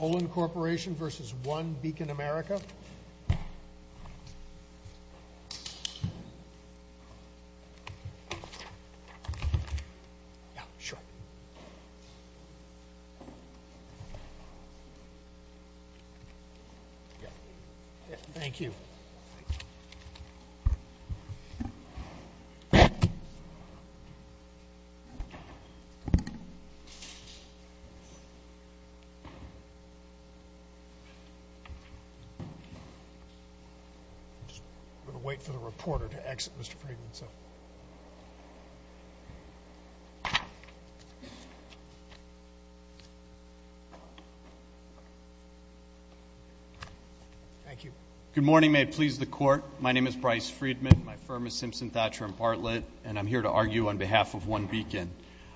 Olin Corporation v. One Beacon America Good morning. May it please the court. My name is Bryce Friedman. My firm is Simpson Thatcher & Bartlett, and I'm here to argue on behalf of One Beacon.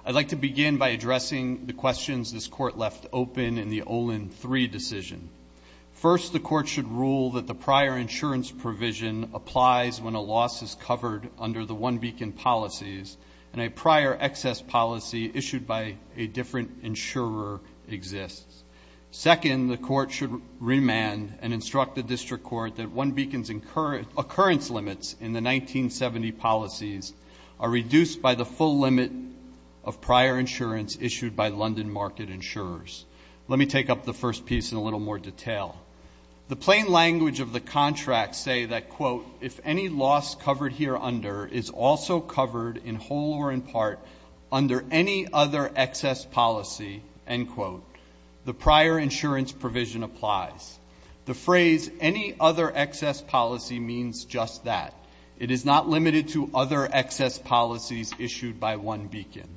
I'd like to begin by addressing the questions this Court left open in the Olin 3 decision. First, the Court should rule that the prior insurance provision applies when a loss is covered under the One Beacon policies, and a prior excess policy issued by a different insurer exists. Second, the Court should remand and instruct the District Court that One Beacon's occurrence limits in the 1970 policies are reduced by the full limit of prior insurance issued by London market insurers. Let me take up the first piece in a little more detail. The plain language of the contract say that, quote, if any loss covered here under is also covered in whole or in part under any other excess policy, end quote, the prior insurance provision applies. The phrase any other excess policy means just that. It is not limited to other excess policies issued by One Beacon.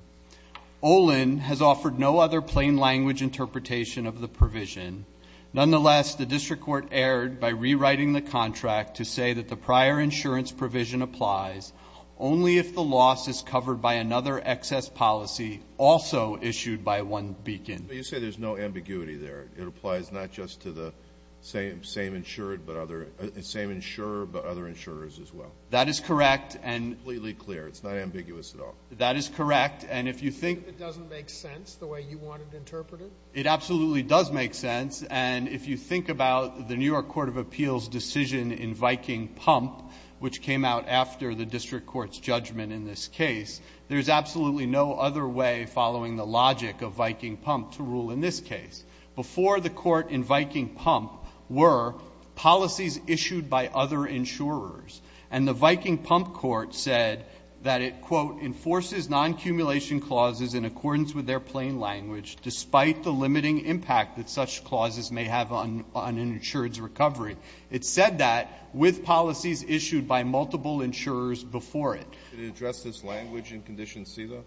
Olin has offered no other plain language interpretation of the provision. Nonetheless, the District Court erred by rewriting the contract to say that the prior insurance provision applies only if the loss is covered by another excess policy also issued by One Beacon. But you say there's no ambiguity there. It applies not just to the same insured but other – same insurer but other insurers as well. That is correct. Completely clear. It's not ambiguous at all. That is correct. And if you think Even if it doesn't make sense the way you want to interpret it? It absolutely does make sense. And if you think about the New York Court of Appeals decision in Viking Pump, which came out after the District Court's judgment in this case, there is absolutely no other way following the logic of Viking Pump to rule in this case. Before the court in Viking Pump were policies issued by other insurers. And the Viking Pump court said that it, quote, enforces non-accumulation clauses in accordance with their plain language, despite the limiting impact that such clauses may have on an insured's recovery. It said that with policies issued by multiple insurers before it. Did it address this language in Condition C, though?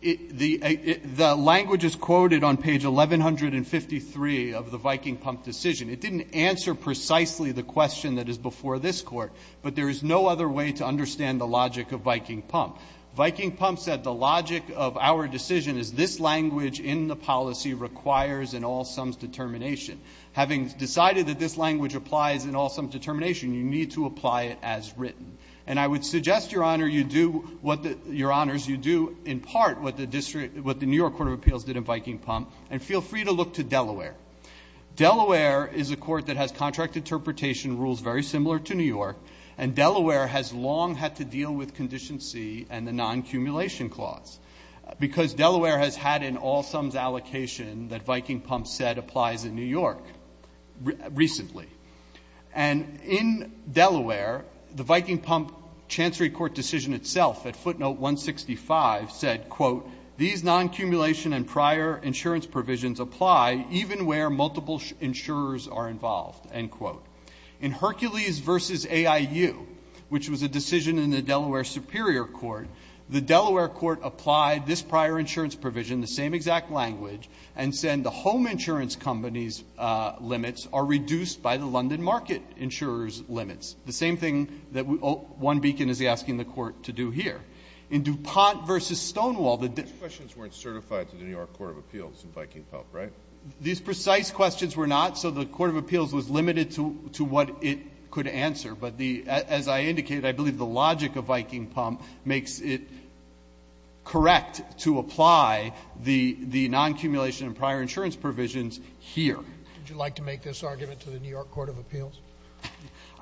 The language is quoted on page 1153 of the Viking Pump decision. It didn't answer precisely the question that is before this Court. But there is no other way to understand the logic of Viking Pump. Viking Pump said the logic of our decision is this language in the policy requires an all-sums determination. Having decided that this language applies in all-sums determination, you need to apply it as written. And I would suggest, Your Honor, you do what the – Your Honors, you do in part what the District – what the New York Court of Appeals did in Viking Pump, and feel free to look to Delaware. Delaware is a court that has contract interpretation rules very similar to New York, and Delaware has long had to deal with Condition C and the non-accumulation clause. Because Delaware has had an all-sums allocation that Viking Pump said applies in New York recently. And in Delaware, the Viking Pump Chancery Court decision itself at footnote 165 said, quote, these non-accumulation and prior insurance provisions apply even where multiple insurers are involved, end quote. In Hercules v. AIU, which was a decision in the Delaware Superior Court, the Delaware Court applied this prior insurance provision, the same exact language, and said the home insurance company's limits are reduced by the London market insurer's limits. The same thing that one beacon is asking the Court to do here. In DuPont v. Stonewall, the – These questions weren't certified to the New York Court of Appeals in Viking Pump, right? These precise questions were not, so the Court of Appeals was limited to what it could answer. But the – as I indicated, I believe the logic of Viking Pump makes it correct to apply the non-accumulation and prior insurance provisions here. Would you like to make this argument to the New York Court of Appeals?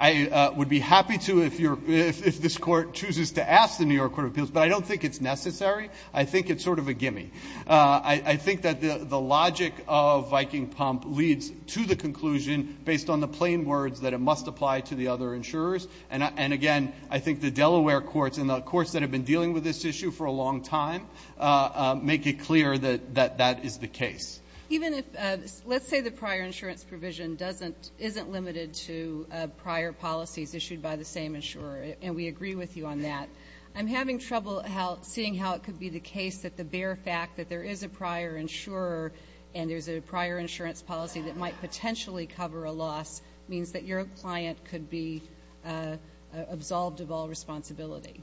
I would be happy to if you're – if this Court chooses to ask the New York Court of Appeals, but I don't think it's necessary. I think it's sort of a gimme. I think that the logic of Viking Pump leads to the conclusion based on the plain words that it must apply to the other insurers. And again, I think the Delaware courts and the courts that have been dealing with this issue for a long time make it clear that that is the case. Even if – let's say the prior insurance provision doesn't – isn't limited to prior policies issued by the same insurer, and we agree with you on that. I'm having trouble seeing how it could be the case that the bare fact that there is a prior insurer and there's a prior insurance policy that might potentially cover a loss means that your client could be absolved of all responsibility.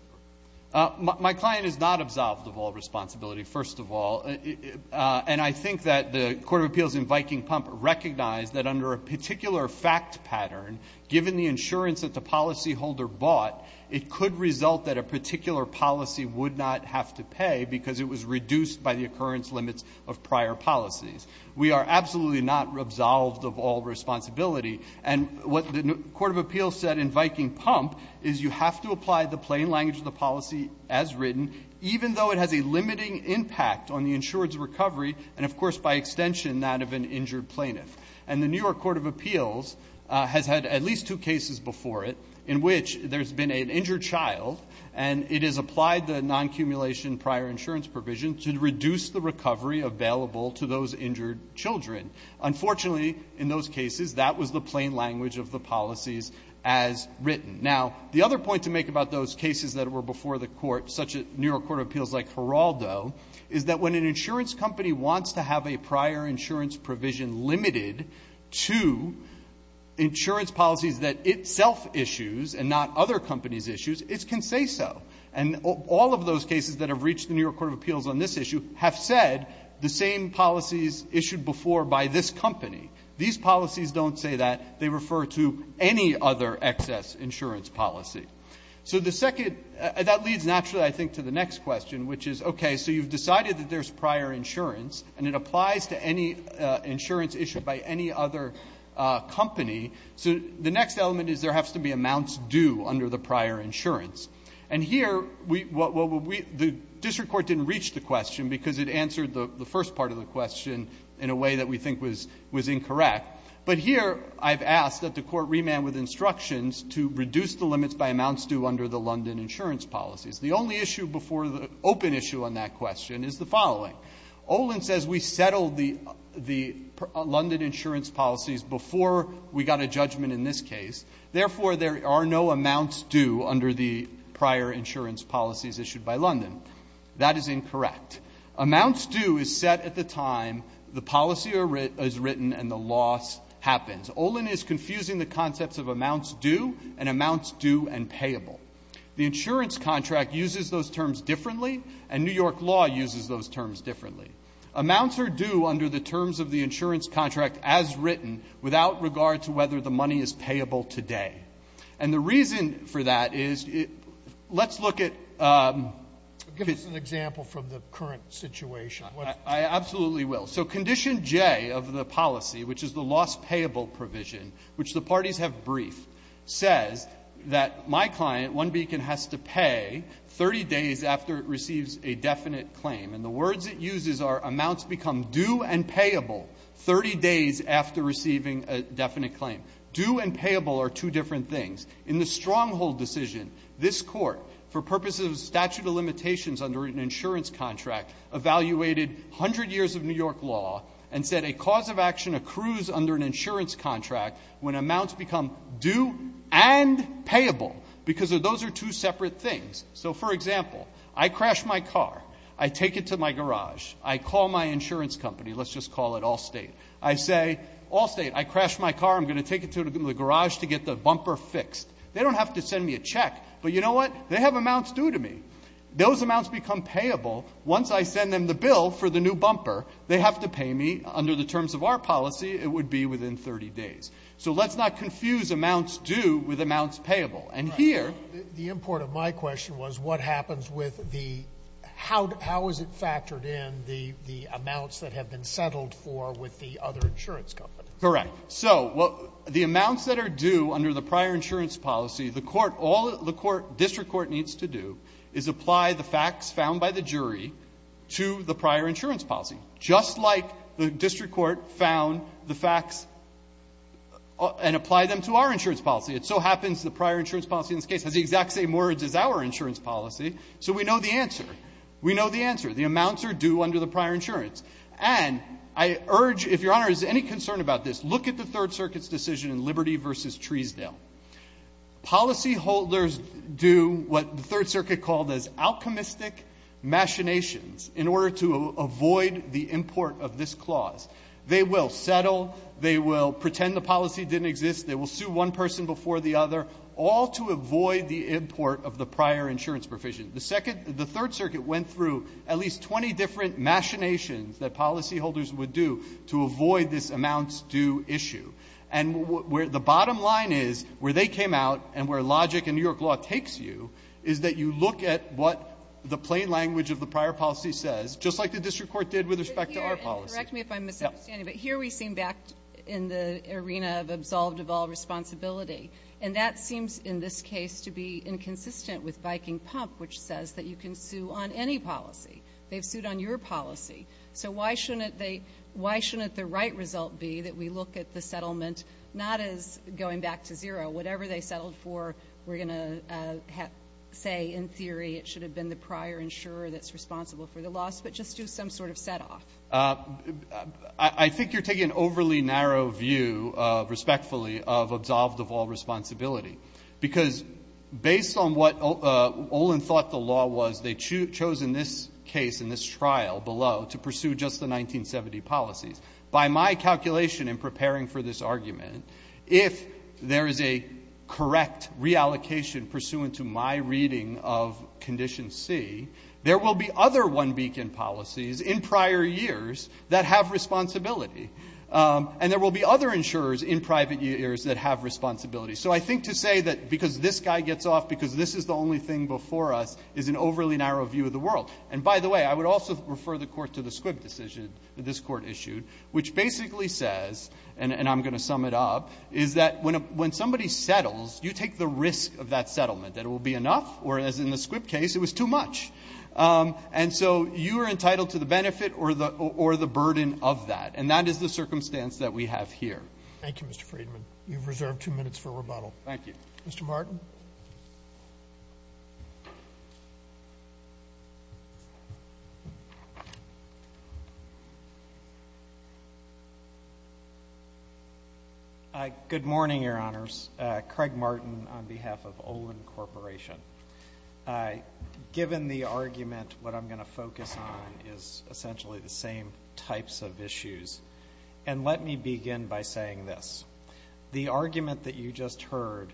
My client is not absolved of all responsibility, first of all. And I think that the Court of Appeals in Viking Pump recognized that under a particular fact pattern, given the insurance that the policyholder bought, it could result that a particular policy would not have to pay because it was reduced by the occurrence limits of prior policies. We are absolutely not absolved of all responsibility. And what the Court of Appeals said in Viking Pump is you have to apply the plain language of the policy as written, even though it has a limiting impact on the insurer's recovery and, of course, by extension, that of an injured plaintiff. And the New York Court of Appeals has had at least two cases before it in which there's been an injured child and it has applied the non-accumulation prior insurance provision to reduce the recovery available to those injured children. Unfortunately, in those cases, that was the plain language of the policies as written. Now, the other point to make about those cases that were before the court, such as New York Court of Appeals like Geraldo, is that when an insurance company wants to have a prior insurance provision limited to insurance policies that itself issues and not other companies' issues, it can say so. And all of those cases that have reached the New York Court of Appeals on this issue have said the same policies issued before by this company. These policies don't say that. They refer to any other excess insurance policy. So the second – that leads naturally, I think, to the next question, which is, okay, so you've decided that there's prior insurance and it applies to any insurance issued by any other company. So the next element is there has to be amounts due under the prior insurance. And here, we – the district court didn't reach the question because it answered the first part of the question in a way that we think was incorrect. But here, I've asked that the court remand with instructions to reduce the limits by amounts due under the London insurance policies. The only issue before the open issue on that question is the following. Olin says we settled the London insurance policies before we got a judgment in this prior insurance policies issued by London. That is incorrect. Amounts due is set at the time the policy is written and the loss happens. Olin is confusing the concepts of amounts due and amounts due and payable. The insurance contract uses those terms differently, and New York law uses those terms differently. Amounts are due under the terms of the insurance contract as written without regard to whether the money is payable today. And the reason for that is – let's look at – Give us an example from the current situation. I absolutely will. So Condition J of the policy, which is the loss payable provision, which the parties have briefed, says that my client, One Beacon, has to pay 30 days after it receives a definite claim. And the words it uses are amounts become due and payable 30 days after receiving a definite claim. Due and payable are two different things. In the Stronghold decision, this Court, for purposes of statute of limitations under an insurance contract, evaluated 100 years of New York law and said a cause of action accrues under an insurance contract when amounts become due and payable because those are two separate things. So, for example, I crash my car. I take it to my garage. I call my insurance company. Let's just call it Allstate. I say, Allstate, I crashed my car. I'm going to take it to the garage to get the bumper fixed. They don't have to send me a check, but you know what? They have amounts due to me. Those amounts become payable once I send them the bill for the new bumper. They have to pay me. Under the terms of our policy, it would be within 30 days. So let's not confuse amounts due with amounts payable. And here – The import of my question was what happens with the – how is it factored in, the amounts that have been settled for with the other insurance companies? Correct. So the amounts that are due under the prior insurance policy, the court – all the court – district court needs to do is apply the facts found by the jury to the prior insurance policy, just like the district court found the facts and applied them to our insurance policy. It so happens the prior insurance policy in this case has the exact same words as our insurance policy, so we know the answer. We know the answer. The amounts are due under the prior insurance. And I urge – if Your Honor is any concerned about this, look at the Third Circuit's decision in Liberty v. Treesdale. Policyholders do what the Third Circuit called as alchemistic machinations in order to avoid the import of this clause. They will settle. They will pretend the policy didn't exist. They will sue one person before the other, all to avoid the import of the prior insurance provision. The Second – the Third Circuit went through at least 20 different machinations that policyholders would do to avoid this amounts due issue. And where the bottom line is, where they came out and where logic in New York law takes you, is that you look at what the plain language of the prior policy says, just like the district court did with respect to our policy. Correct me if I'm misunderstanding, but here we seem back in the arena of absolved of all responsibility. And that seems, in this case, to be inconsistent with Viking Pump, which says that you can sue on any policy. They've sued on your policy. So why shouldn't they – why shouldn't the right result be that we look at the settlement not as going back to zero? Whatever they settled for, we're going to say, in theory, it should have been the prior insurer that's responsible for the loss, but just do some sort of set-off. I think you're taking an overly narrow view, respectfully, of absolved of all responsibility, because based on what Olin thought the law was, they chose in this case, in this trial below, to pursue just the 1970 policies. By my calculation in preparing for this argument, if there is a correct reallocation pursuant to my reading of Condition C, there will be other one-beacon policies in prior years that have responsibility. And there will be other insurers in private years that have responsibility. So I think to say that because this guy gets off because this is the only thing before us is an overly narrow view of the world. And by the way, I would also refer the Court to the Squibb decision that this Court issued, which basically says – and I'm going to sum it up – is that when somebody settles, you take the risk of that settlement, that it will be enough, whereas in the Squibb case, it was too much. And so you are entitled to the benefit or the burden of that. And that is the circumstance that we have here. Thank you, Mr. Friedman. You've reserved two minutes for rebuttal. Thank you. Mr. Martin? Good morning, Your Honors. Craig Martin on behalf of Olin Corporation. Given the argument, what I'm going to focus on is essentially the same types of issues. And let me begin by saying this. The argument that you just heard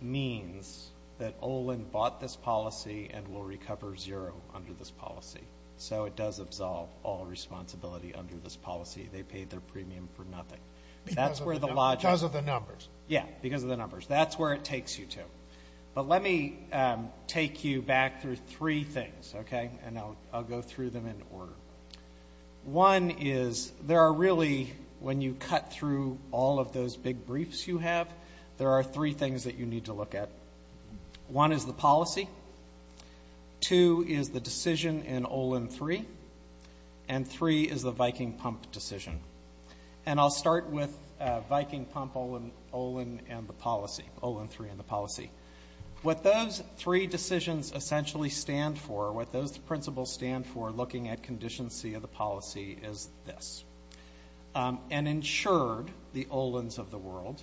means that Olin bought this policy and will recover zero under this policy. So it does absolve all responsibility under this policy. They paid their premium for nothing. Because of the numbers. Yeah, because of the numbers. That's where it takes you to. But let me take you back through three things, okay? And I'll go through them in order. One is, there are really, when you cut through all of those big briefs you have, there are three things that you need to look at. One is the policy. Two is the decision in Olin 3. And three is the Viking Pump decision. And I'll start with Viking Pump, Olin and the policy. Olin 3 and the policy. What those three decisions essentially stand for, what those principles stand for looking at condition C of the policy is this. An insured, the Olins of the world,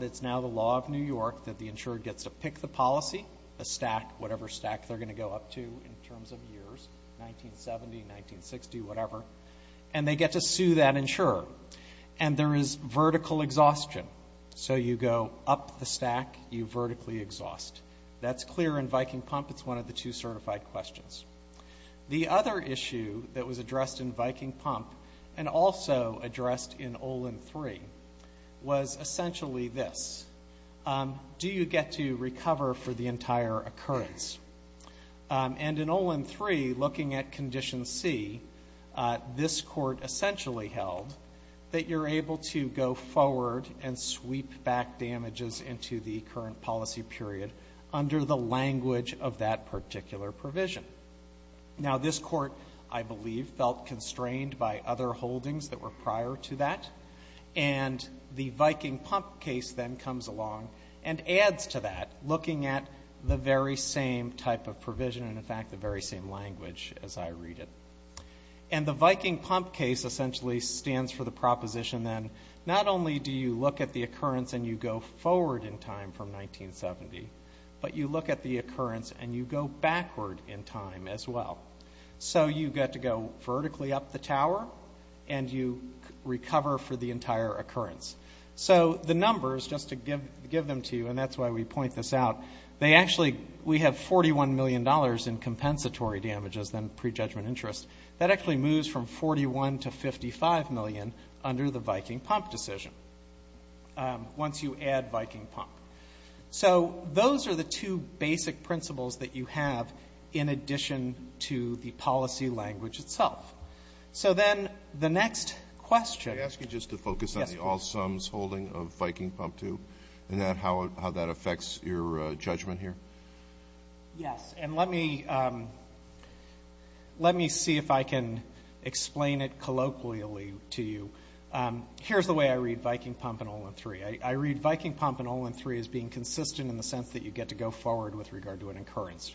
that's now the law of New York, that the insured gets to pick the policy, a stack, whatever stack they're going to go up to in terms of years, 1970, 1960, whatever. And they get to sue that insurer. And there is vertical exhaustion. So you go up the stack, you vertically exhaust. That's clear in Viking Pump. It's one of the two certified questions. The other issue that was addressed in Viking Pump, and also addressed in Olin 3, was essentially this. Do you get to recover for the entire occurrence? And in Olin 3, looking at condition C, this court essentially held that you're able to forward and sweep back damages into the current policy period under the language of that particular provision. Now, this court, I believe, felt constrained by other holdings that were prior to that. And the Viking Pump case then comes along and adds to that, looking at the very same type of provision, and in fact, the very same language as I read it. And the Viking Pump case essentially stands for the proposition then, not only do you look at the occurrence and you go forward in time from 1970, but you look at the occurrence and you go backward in time as well. So you get to go vertically up the tower, and you recover for the entire occurrence. So the numbers, just to give them to you, and that's why we point this out, they actually, we have $41 million in compensatory damages, then pre-judgment interest. That actually moves from $41 to $55 million under the Viking Pump decision, once you add Viking Pump. So those are the two basic principles that you have in addition to the policy language itself. So then the next question. Can I ask you just to focus on the all-sums holding of Viking Pump 2, and how that affects your judgment here? Yes, and let me see if I can explain it colloquially to you. Here's the way I read Viking Pump and Olin 3. I read Viking Pump and Olin 3 as being consistent in the sense that you get to go forward with regard to an occurrence.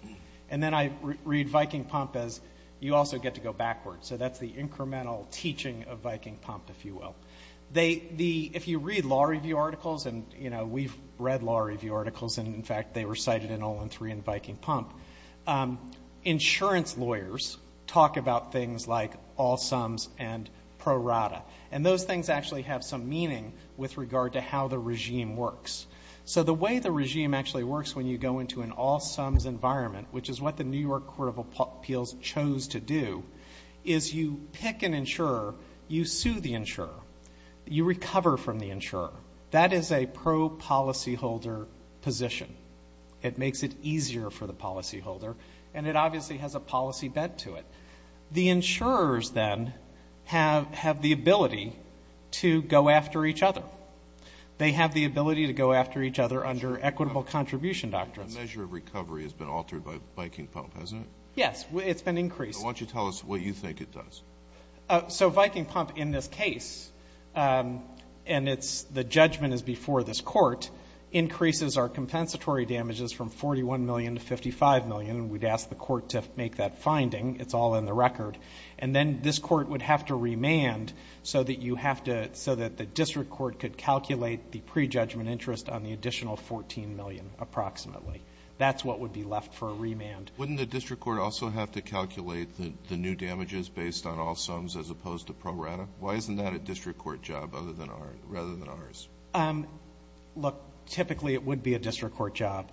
And then I read Viking Pump as you also get to go backward. So that's the incremental teaching of Viking Pump, if you will. If you read law review articles, and we've read law review articles, and in fact, they were cited in Olin 3 and Viking Pump, insurance lawyers talk about things like all-sums and pro-rata. And those things actually have some meaning with regard to how the regime works. So the way the regime actually works when you go into an all-sums environment, which is what the New York Court of Appeals chose to do, is you pick an insurer, you sue the insurer, you recover from the insurer. That is a pro-policyholder position. It makes it easier for the policyholder. And it obviously has a policy bent to it. The insurers then have the ability to go after each other. They have the ability to go after each other under equitable contribution doctrines. The measure of recovery has been altered by Viking Pump, hasn't it? Yes, it's been increased. So why don't you tell us what you think it does? So Viking Pump in this case, and the judgment is before this court, increases our compensatory damages from $41 million to $55 million. We'd ask the court to make that finding. It's all in the record. And then this court would have to remand so that you have to so that the district court could calculate the pre-judgment interest on the additional $14 million, approximately. That's what would be left for a remand. Wouldn't the district court also have to calculate the new damages based on all-sums as opposed to pro-rata? Why isn't that a district court job rather than ours? Um, look, typically it would be a district court job.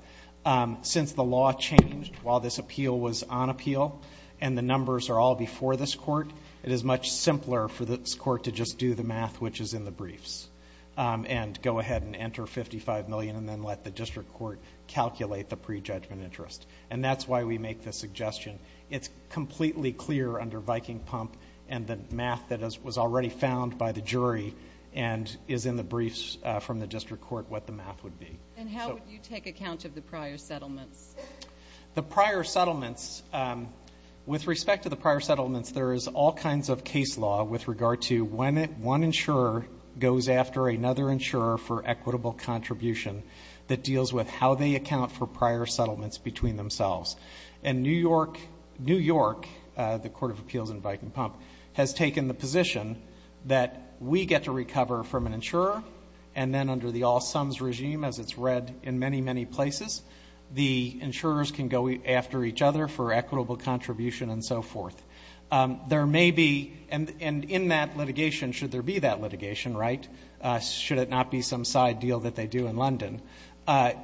Since the law changed while this appeal was on appeal and the numbers are all before this court, it is much simpler for this court to just do the math which is in the briefs and go ahead and enter $55 million and then let the district court calculate the pre-judgment interest. And that's why we make this suggestion. It's completely clear under Viking Pump and the math that was already found by the jury and is in the briefs from the district court what the math would be. And how would you take account of the prior settlements? The prior settlements, um, with respect to the prior settlements, there is all kinds of case law with regard to when one insurer goes after another insurer for equitable contribution that deals with how they account for prior settlements between themselves. And New York, New York, the court of appeals in Viking Pump, has taken the position that we get to recover from an insurer and then under the all sums regime, as it's read in many, many places, the insurers can go after each other for equitable contribution and so forth. There may be, and in that litigation, should there be that litigation, right? Should it not be some side deal that they do in London?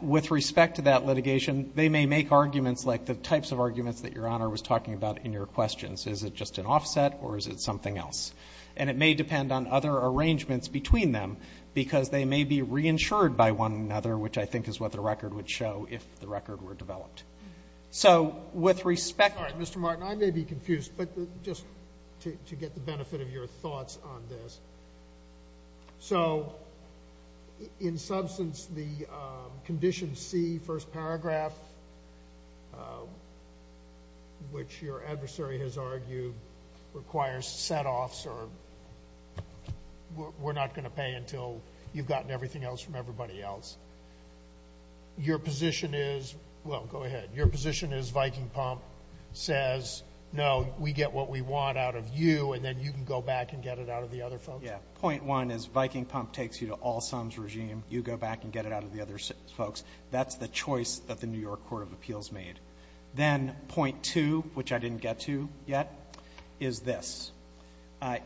With respect to that litigation, they may make arguments like the types of arguments that Your Honor was talking about in your questions. Is it just an offset or is it something else? And it may depend on other arrangements between them, because they may be reinsured by one another, which I think is what the record would show if the record were developed. So with respect to the prior settlements, there is all kinds of case law with regard how they account for prior settlements, right? All right. Mr. Martin, I may be confused, but just to get the benefit of your thoughts on this. So in substance, the Condition C, first paragraph, which your adversary has argued requires setoffs or we're not going to pay until you've gotten everything else from everybody else. Your position is, well, go ahead. Your position is Viking Pump says, no, we get what we want out of you, and then you can go back and get it out of the other folks? Yeah. Point one is Viking Pump takes you to all sums regime. You go back and get it out of the other folks. That's the choice that the New York Court of Appeals made. Then point two, which I didn't get to yet, is this.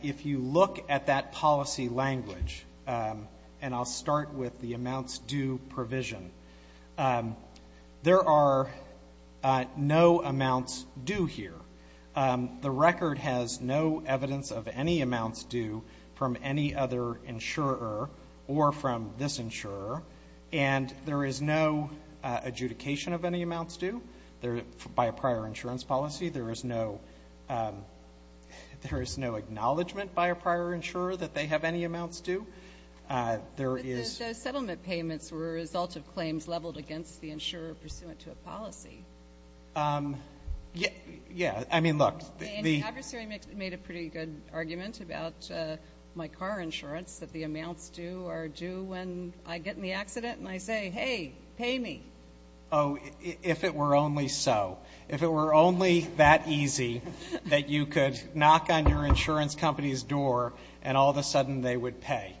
If you look at that policy language, and I'll start with the amounts due provision, there are no amounts due here. The record has no evidence of any amounts due from any other insurer or from this insurer, and there is no adjudication of any amounts due by a prior insurance policy. There is no acknowledgement by a prior insurer that they have any amounts due. But those settlement payments were a result of claims leveled against the insurer pursuant to a policy. Yeah. I mean, look. And the adversary made a pretty good argument about my car insurance, that the amounts due when I get in the accident and I say, hey, pay me. Oh, if it were only so. If it were only that easy that you could knock on your insurance company's door and all of a sudden they would pay.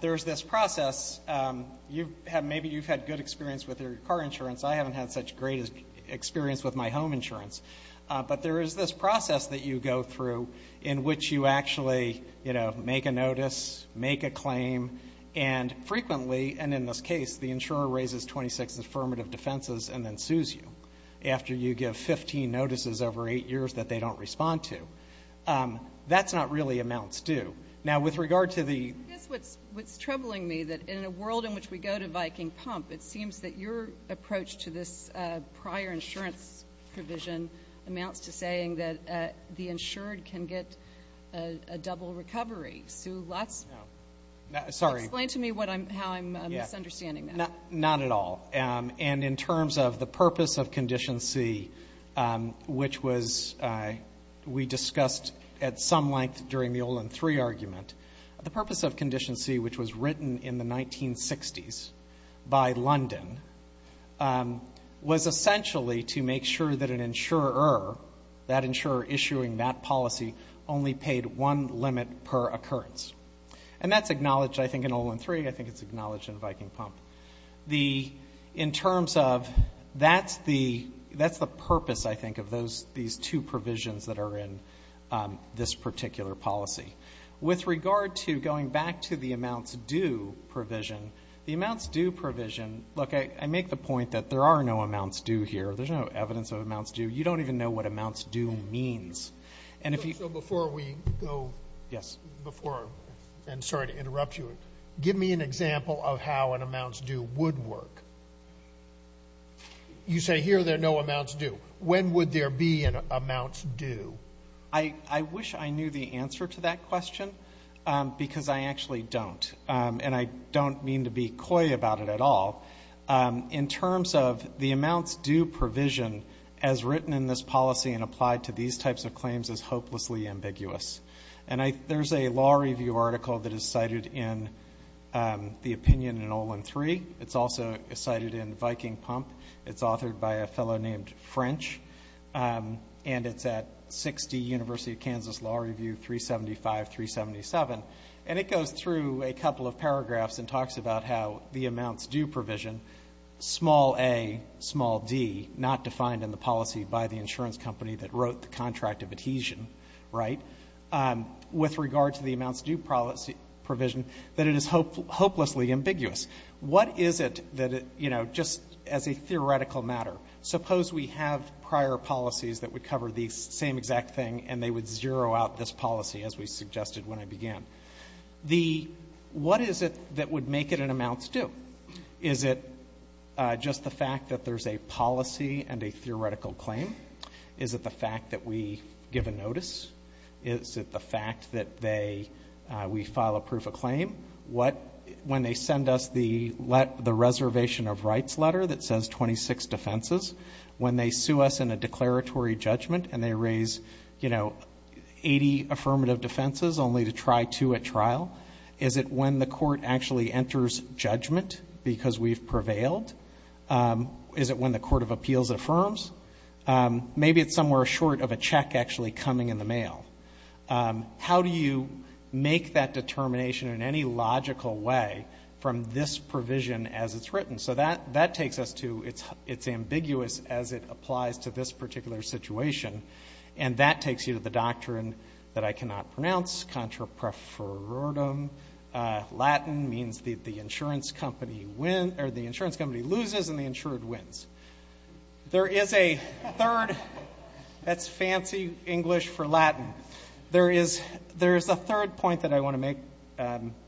There's this process. Maybe you've had good experience with your car insurance. I haven't had such great experience with my home insurance. But there is this process that you go through in which you actually make a notice, make a claim, and frequently, and in this case, the insurer raises 26 affirmative defenses and then sues you after you give 15 notices over eight years that they don't respond to. That's not really amounts due. Now, with regard to the- I guess what's troubling me that in a world in which we go to Viking Pump, it seems that your approach to this prior insurance provision amounts to saying that the insured can get a double recovery. Sue, that's- Sorry. Explain to me how I'm misunderstanding that. Not at all. And in terms of the purpose of Condition C, which was- we discussed at some length during the Olin III argument. The purpose of Condition C, which was written in the 1960s by London, was essentially to make sure that an insurer, that insurer issuing that policy, only paid one limit per occurrence. And that's acknowledged, I think, in Olin III. I think it's acknowledged in Viking Pump. In terms of- that's the purpose, I think, of these two provisions that are in this particular policy. With regard to going back to the amounts due provision, the amounts due provision- look, I make the point that there are no amounts due here. There's no evidence of amounts due. You don't even know what amounts due means. And if you- So before we go- Yes. Before- and sorry to interrupt you. Give me an example of how an amounts due would work. You say here there are no amounts due. When would there be an amounts due? I wish I knew the answer to that question because I actually don't. And I don't mean to be coy about it at all. In terms of the amounts due provision as written in this policy and applied to these types of claims is hopelessly ambiguous. And there's a law review article that is cited in the opinion in Olin III. It's also cited in Viking Pump. It's authored by a fellow named French. And it's at 60 University of Kansas Law Review 375-377. And it goes through a couple of paragraphs and talks about how the amounts due provision, small a, small d, not defined in the policy by the insurance company that wrote the contract of adhesion, right, with regard to the amounts due policy provision, that it is hopelessly ambiguous. What is it that, you know, just as a theoretical matter, suppose we have prior policies that would cover the same exact thing and they would zero out this policy as we suggested when I began. The- what is it that would make it an amounts due? Is it just the fact that there's a policy and a theoretical claim? Is it the fact that we give a notice? Is it the fact that they- we file a proof of claim? What- when they send us the let- the reservation of rights letter that says 26 defenses? When they sue us in a declaratory judgment and they raise, you know, 80 affirmative defenses only to try two at trial? Is it when the court actually enters judgment because we've prevailed? Is it when the court of appeals affirms? Maybe it's somewhere short of a check actually coming in the mail. How do you make that determination in any logical way from this provision as it's written? So that- that takes us to it's- it's ambiguous as it applies to this particular situation. And that takes you to the doctrine that I cannot pronounce, contrapreferordum. Latin means the- the insurance company win- or the insurance company loses and the insured wins. There is a third- that's fancy English for Latin. There is- there's a third point that I want to make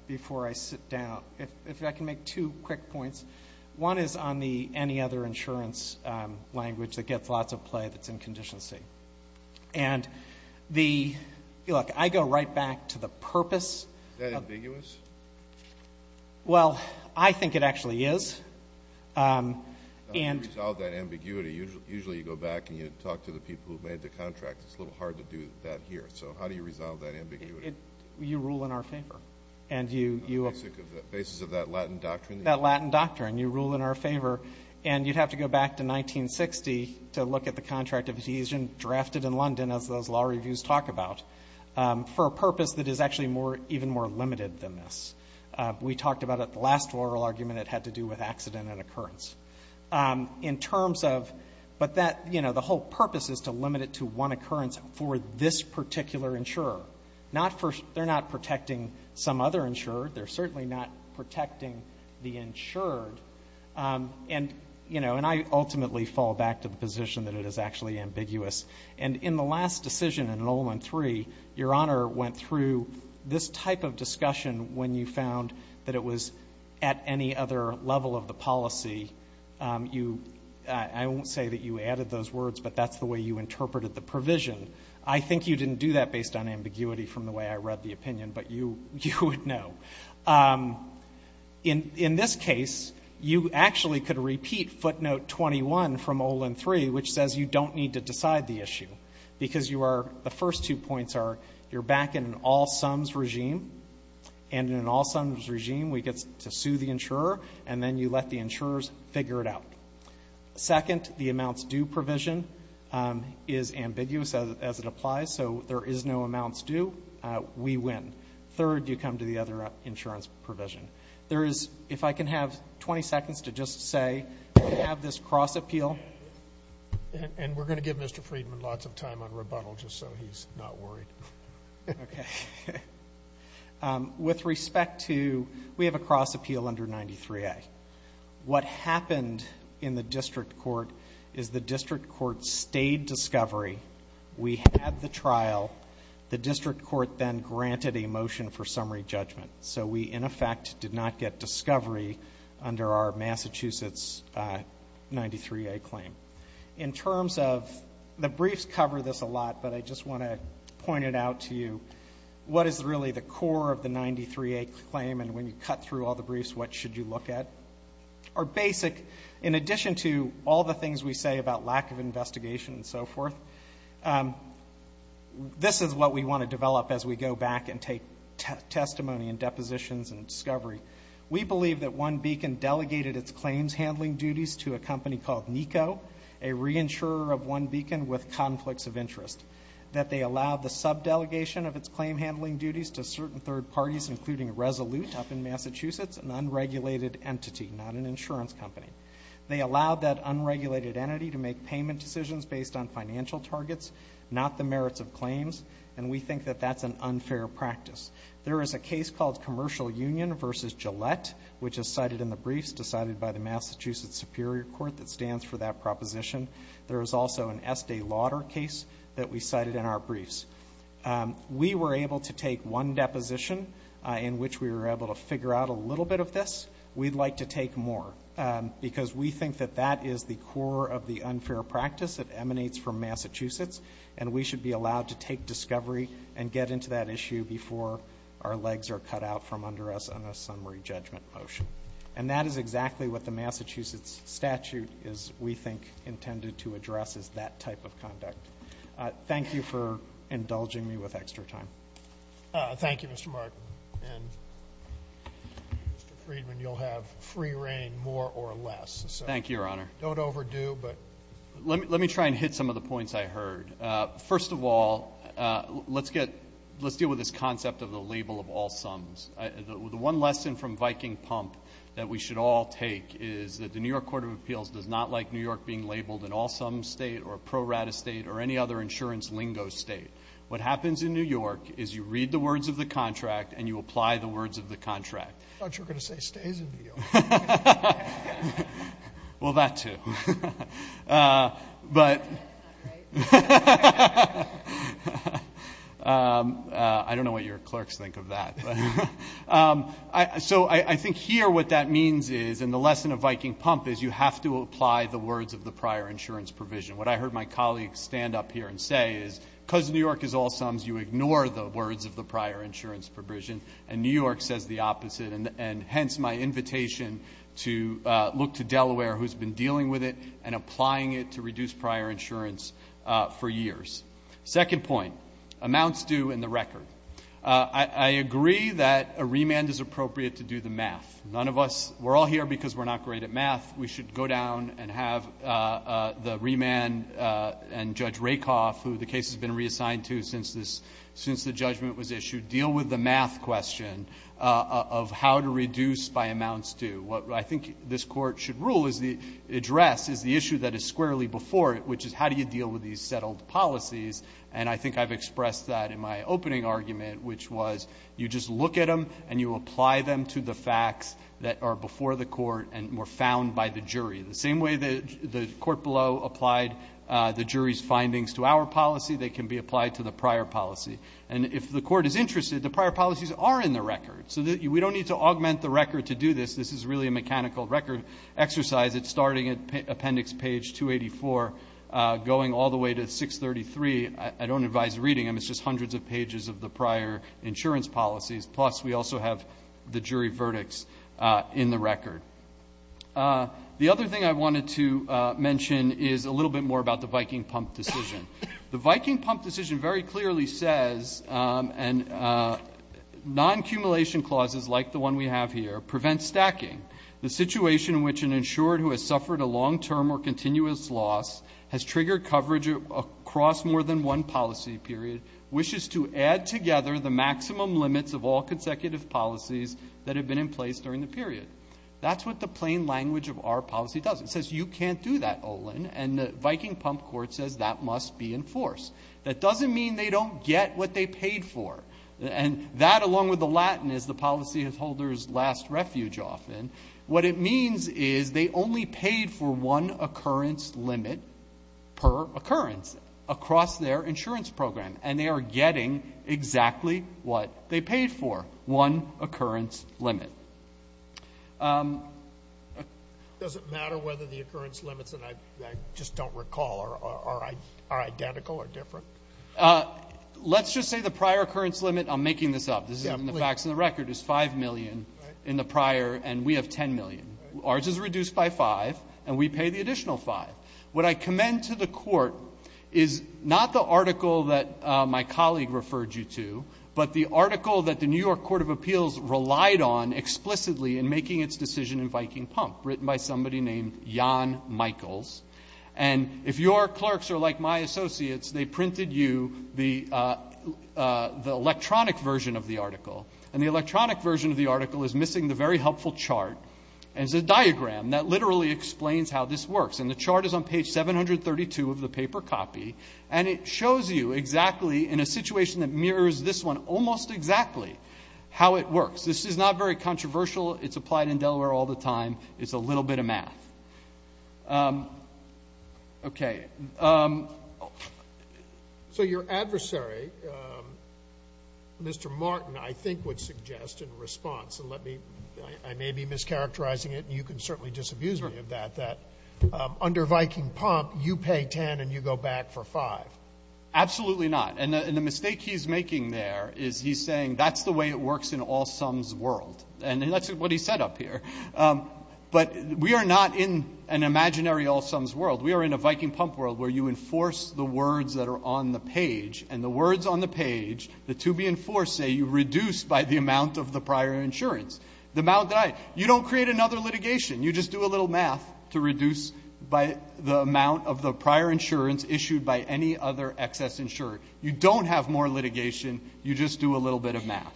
before I sit down. If- if I can make two quick points. One is on the any other insurance language that gets lots of play that's in condition C. And the- look, I go right back to the purpose. Is that ambiguous? Well, I think it actually is. And- How do you resolve that ambiguity? Usually you go back and you talk to the people who made the contract. It's a little hard to do that here. So how do you resolve that ambiguity? You rule in our favor. And you- On the basis of that Latin doctrine? That Latin doctrine. You rule in our favor. And you'd have to go back to 1960 to look at the contract of adhesion drafted in London as those law reviews talk about for a purpose that is actually more- even more limited than this. We talked about it at the last oral argument. It had to do with accident and occurrence. In terms of- but that- you know, the whole purpose is to limit it to one occurrence for this particular insurer. Not for- they're not protecting some other insurer. They're certainly not protecting the insured. And, you know, and I ultimately fall back to the position that it is actually ambiguous. And in the last decision in Nolan III, Your Honor went through this type of discussion when you found that it was at any other level of the policy. You- I won't say that you added those words, but that's the way you interpreted the provision. I think you didn't do that based on ambiguity from the way I read the opinion. But you would know. In this case, you actually could repeat footnote 21 from Nolan III, which says you don't need to decide the issue. Because you are- the first two points are you're back in an all-sums regime. And in an all-sums regime, we get to sue the insurer. And then you let the insurers figure it out. Second, the amounts due provision is ambiguous as it applies. So there is no amounts due. We win. Third, you come to the other insurance provision. There is- if I can have 20 seconds to just say, we have this cross-appeal. And we're going to give Mr. Friedman lots of time on rebuttal, just so he's not worried. Okay. With respect to- we have a cross-appeal under 93A. What happened in the district court is the district court stayed discovery. We had the trial. The district court then granted a motion for summary judgment. So we, in effect, did not get discovery under our Massachusetts 93A claim. In terms of- the briefs cover this a lot, but I just want to point it out to you. What is really the core of the 93A claim? And when you cut through all the briefs, what should you look at? Our basic- in addition to all the things we say about lack of investigation and so forth, this is what we want to develop as we go back and take testimony and depositions and discovery. We believe that One Beacon delegated its claims handling duties to a company called NECO, a reinsurer of One Beacon with conflicts of interest. That they allowed the sub-delegation of its claim handling duties to certain third parties, including Resolute up in Massachusetts, an unregulated entity, not an insurance company. They allowed that unregulated entity to make payment decisions based on financial targets, not the merits of claims, and we think that that's an unfair practice. There is a case called Commercial Union v. Gillette, which is cited in the briefs, decided by the Massachusetts Superior Court that stands for that proposition. There is also an Estee Lauder case that we cited in our briefs. We were able to take one deposition in which we were able to figure out a little bit of this. We'd like to take more because we think that that is the core of the unfair practice that emanates from Massachusetts, and we should be allowed to take discovery and get into that issue before our legs are cut out from under us on a summary judgment motion. And that is exactly what the Massachusetts statute is, we think, intended to address, is that type of conduct. Thank you for indulging me with extra time. Thank you, Mr. Martin. And Mr. Friedman, you'll have free reign, more or less. Thank you, Your Honor. Don't overdo, but... Let me try and hit some of the points I heard. First of all, let's deal with this concept of the label of all sums. The one lesson from Viking Pump that we should all take is that the New York Court of Appeals does not like New York being labeled an all-sum state or pro-rata state or any other insurance lingo state. What happens in New York is you read the words of the contract and you apply the words of the contract. I thought you were going to say stays in New York. Well, that too. But... I don't know what your clerks think of that. So I think here what that means is, and the lesson of Viking Pump is you have to apply the words of the prior insurance provision. What I heard my colleagues stand up here and say is, because New York is all sums, you ignore the words of the prior insurance provision. And New York says the opposite. And hence, my invitation to look to Delaware, who's been dealing with it and applying it to reduce prior insurance for years. Second point, amounts due and the record. I agree that a remand is appropriate to do the math. None of us, we're all here because we're not great at math. We should go down and have the remand and Judge Rakoff, who the case has been reassigned to since the judgment was issued, deal with the math question of how to reduce by amounts due. What I think this court should address is the issue that is squarely before it, which is how do you deal with these settled policies? And I think I've expressed that in my opening argument, which was you just look at them and you apply them to the facts that are before the court and were found by the jury. The same way the court below applied the jury's findings to our policy, they can be applied to the prior policy. And if the court is interested, the prior policies are in the record. So we don't need to augment the record to do this. This is really a mechanical record exercise. It's starting at appendix page 284, going all the way to 633. I don't advise reading them. It's just hundreds of pages of the prior insurance policies. Plus, we also have the jury verdicts in the record. The other thing I wanted to mention is a little bit more about the Viking Pump decision. The Viking Pump decision very clearly says, and non-accumulation clauses like the one we have here, prevent stacking. The situation in which an insured who has suffered a long-term or continuous loss has triggered coverage across more than one policy period, wishes to add together the maximum limits of all consecutive policies that have been in place during the period. That's what the plain language of our policy does. It says you can't do that, Olin. And the Viking Pump court says that must be enforced. That doesn't mean they don't get what they paid for. And that, along with the Latin, is the policyholder's last refuge often, what it means is they only paid for one occurrence limit per occurrence across their insurance program, and they are getting exactly what they paid for, one occurrence limit. Does it matter whether the occurrence limits that I just don't recall are identical or different? Let's just say the prior occurrence limit, I'm making this up, this is in the facts and the record, is 5 million in the prior, and we have 10 million. Ours is reduced by 5, and we pay the additional 5. What I commend to the court is not the article that my colleague referred you to, but the article that the New York Court of Appeals relied on explicitly in making its decision in Viking Pump, written by somebody named Jan Michaels. And if your clerks are like my associates, they printed you the electronic version of the article. And the electronic version of the article is missing the very helpful chart, and it's a diagram that literally explains how this works. And the chart is on page 732 of the paper copy, and it shows you exactly, in a situation that mirrors this one, almost exactly how it works. This is not very controversial. It's applied in Delaware all the time. It's a little bit of math. Okay. So your adversary, Mr. Martin, I think would suggest in response, and let me, I may be characterizing it, and you can certainly disabuse me of that, that under Viking Pump, you pay 10 and you go back for 5. Absolutely not. And the mistake he's making there is he's saying that's the way it works in all sums world. And that's what he said up here. But we are not in an imaginary all sums world. We are in a Viking Pump world where you enforce the words that are on the page, and the words on the page, the to be enforced, say you reduce by the amount of the prior insurance. The amount that I, you don't create another litigation. You just do a little math to reduce by the amount of the prior insurance issued by any other excess insurer. You don't have more litigation. You just do a little bit of math.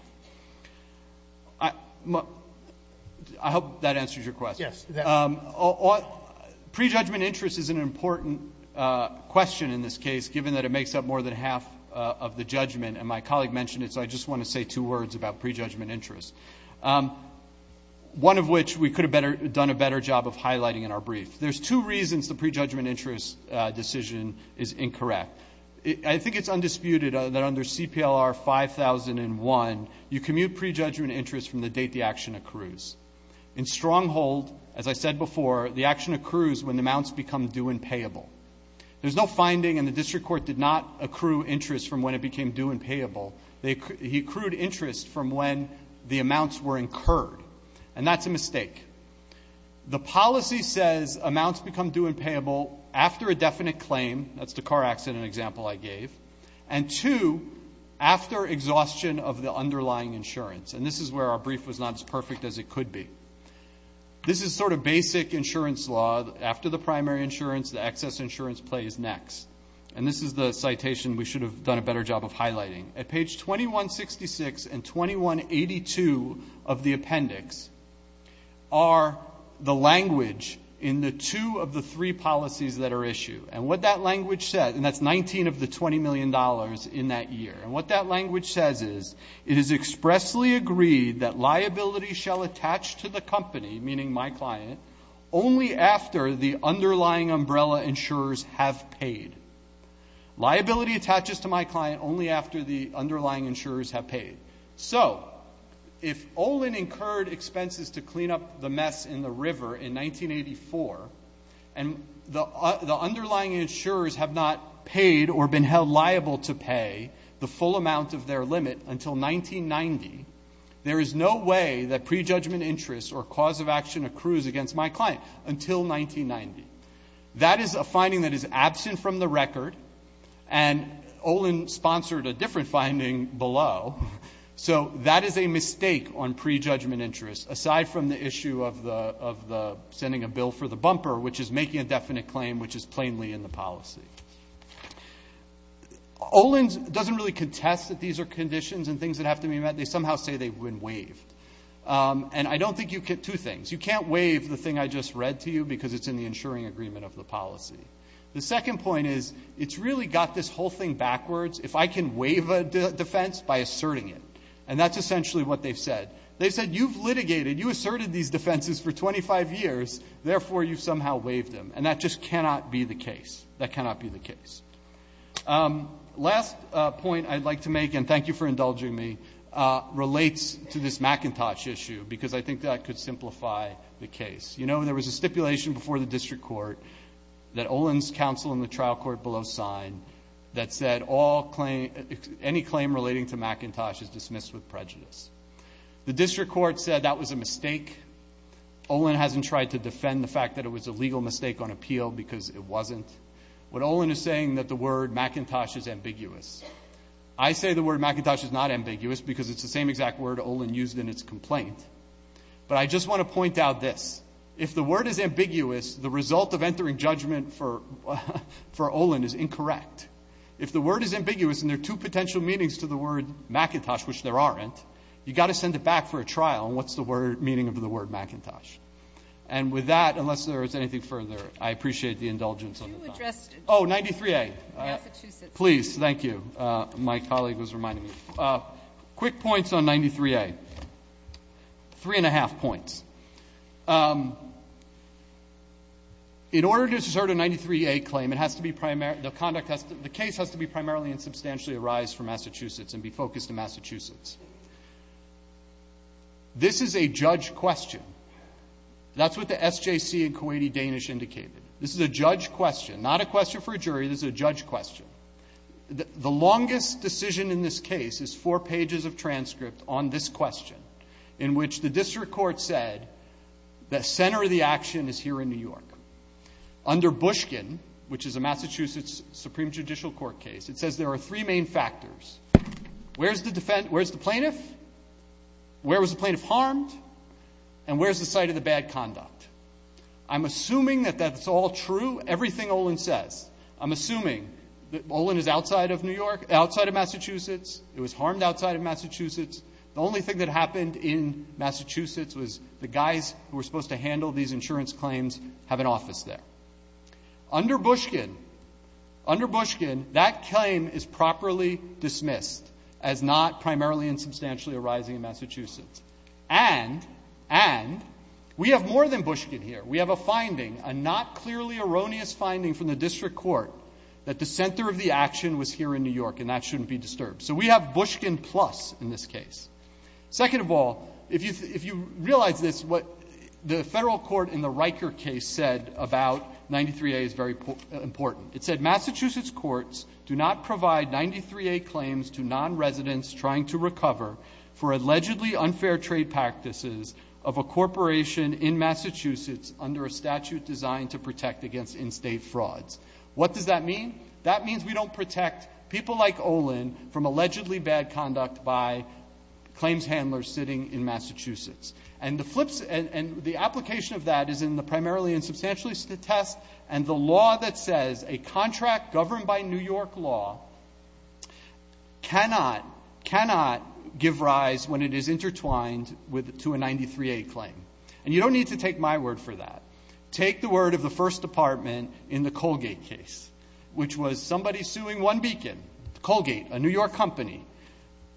I hope that answers your question. Yes. Prejudgment interest is an important question in this case, given that it makes up more than half of the judgment, and my colleague mentioned it, so I just want to say two words about prejudgment interest. One of which we could have done a better job of highlighting in our brief. There's two reasons the prejudgment interest decision is incorrect. I think it's undisputed that under CPLR 5001, you commute prejudgment interest from the date the action accrues. In stronghold, as I said before, the action accrues when the amounts become due and payable. There's no finding, and the district court did not accrue interest from when it became due and payable. He accrued interest from when the amounts were incurred, and that's a mistake. The policy says amounts become due and payable after a definite claim. That's the car accident example I gave. And two, after exhaustion of the underlying insurance, and this is where our brief was not as perfect as it could be. This is sort of basic insurance law. After the primary insurance, the excess insurance play is next, and this is the citation we should have done a better job of highlighting. At page 2166 and 2182 of the appendix are the language in the two of the three policies that are issued. And what that language says, and that's 19 of the $20 million in that year. And what that language says is, it is expressly agreed that liability shall attach to the company, meaning my client, only after the underlying umbrella insurers have paid. Liability attaches to my client only after the underlying insurers have paid. So, if Olin incurred expenses to clean up the mess in the river in 1984, and the underlying insurers have not paid or been held liable to pay the full amount of their limit until 1990, there is no way that prejudgment interest or cause of action accrues against my client until 1990. That is a finding that is absent from the record, and Olin sponsored a different finding below. So, that is a mistake on prejudgment interest, aside from the issue of the sending a bill for the bumper, which is making a definite claim, which is plainly in the policy. Olin doesn't really contest that these are conditions and things that have to be met. They somehow say they've been waived. And I don't think you can, two things. You can't waive the thing I just read to you because it's in the insuring agreement of the policy. The second point is, it's really got this whole thing backwards. If I can waive a defense by asserting it, and that's essentially what they've said. They've said, you've litigated, you asserted these defenses for 25 years, therefore, you've somehow waived them. And that just cannot be the case. That cannot be the case. Last point I'd like to make, and thank you for indulging me, relates to this McIntosh issue because I think that could simplify the case. You know, there was a stipulation before the district court that Olin's counsel in the trial court below signed that said, any claim relating to McIntosh is dismissed with prejudice. The district court said that was a mistake. Olin hasn't tried to defend the fact that it was a legal mistake on appeal because it wasn't. What Olin is saying that the word McIntosh is ambiguous. I say the word McIntosh is not ambiguous because it's the same exact word Olin used in its complaint. But I just want to point out this. If the word is ambiguous, the result of entering judgment for Olin is incorrect. If the word is ambiguous and there are two potential meanings to the word McIntosh, which there aren't, you've got to send it back for a trial, and what's the meaning of the word McIntosh? And with that, unless there is anything further, I appreciate the indulgence of the time. Oh, 93A. Please, thank you. My colleague was reminding me. Quick points on 93A. Three and a half points. In order to assert a 93A claim, it has to be primary – the conduct has to – the case has to be primarily and substantially arised from Massachusetts and be focused in Massachusetts. This is a judge question. That's what the SJC in Kuwaiti Danish indicated. This is a judge question, not a question for a jury. This is a judge question. The longest decision in this case is four pages of transcript on this question, in which the district court said the center of the action is here in New York. Under Bushkin, which is a Massachusetts Supreme Judicial Court case, it says there are three main factors. Where's the plaintiff? Where was the plaintiff harmed? And where's the site of the bad conduct? I'm assuming that that's all true, everything Olin says. I'm assuming that Olin is outside of New York – outside of Massachusetts. It was harmed outside of Massachusetts. The only thing that happened in Massachusetts was the guys who were supposed to handle these insurance claims have an office there. Under Bushkin – under Bushkin, that claim is properly dismissed as not primarily and substantially arising in Massachusetts. And – and we have more than Bushkin here. We have a finding, a not clearly erroneous finding from the district court, that the center of the action was here in New York, and that shouldn't be disturbed. So we have Bushkin plus in this case. Second of all, if you – if you realize this, what the federal court in the Riker case said about 93A is very important. It said Massachusetts courts do not provide 93A claims to non-residents trying to recover for allegedly unfair trade practices of a corporation in Massachusetts under a statute designed to protect against in-state frauds. What does that mean? That means we don't protect people like Olin from allegedly bad conduct by claims handlers sitting in Massachusetts. And the flips – and the application of that is in the primarily and substantially test, and the law that says a contract governed by New York law cannot – cannot give rise when it is intertwined with – to a 93A claim. And you don't need to take my word for that. Take the word of the First Department in the Colgate case, which was somebody suing One Beacon. Colgate, a New York company,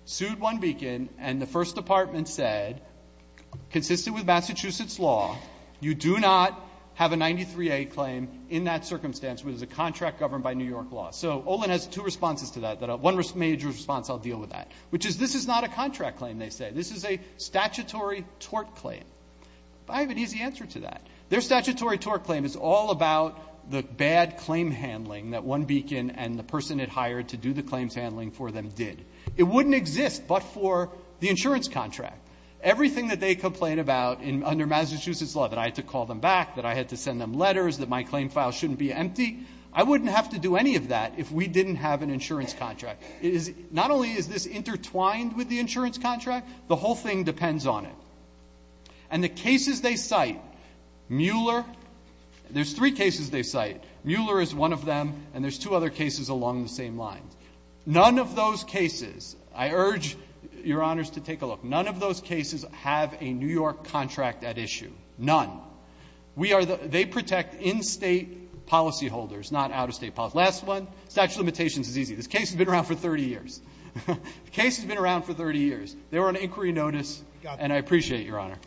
sued One Beacon, and the First Department said, consistent with Massachusetts law, you do not have a 93A claim in that circumstance where there's a contract governed by New York law. So Olin has two responses to that, that – one major response I'll deal with that, which is this is not a contract claim, they say. This is a statutory tort claim. I have an easy answer to that. Their statutory tort claim is all about the bad claim handling that One Beacon and the person it hired to do the claims handling for them did. It wouldn't exist but for the insurance contract. Everything that they complain about in – under Massachusetts law, that I had to call them back, that I had to send them letters, that my claim file shouldn't be empty, I wouldn't have to do any of that if we didn't have an insurance contract. It is – not only is this intertwined with the insurance contract, the whole thing depends on it. And the cases they cite, Mueller – there's three cases they cite. Mueller is one of them, and there's two other cases along the same lines. None of those cases – I urge Your Honors to take a look. None of those cases have a New York contract at issue. None. We are the – they protect in-State policyholders, not out-of-State policyholders. Last one, statute of limitations is easy. This case has been around for 30 years. The case has been around for 30 years. They were on inquiry notice, and I appreciate it, Your Honor.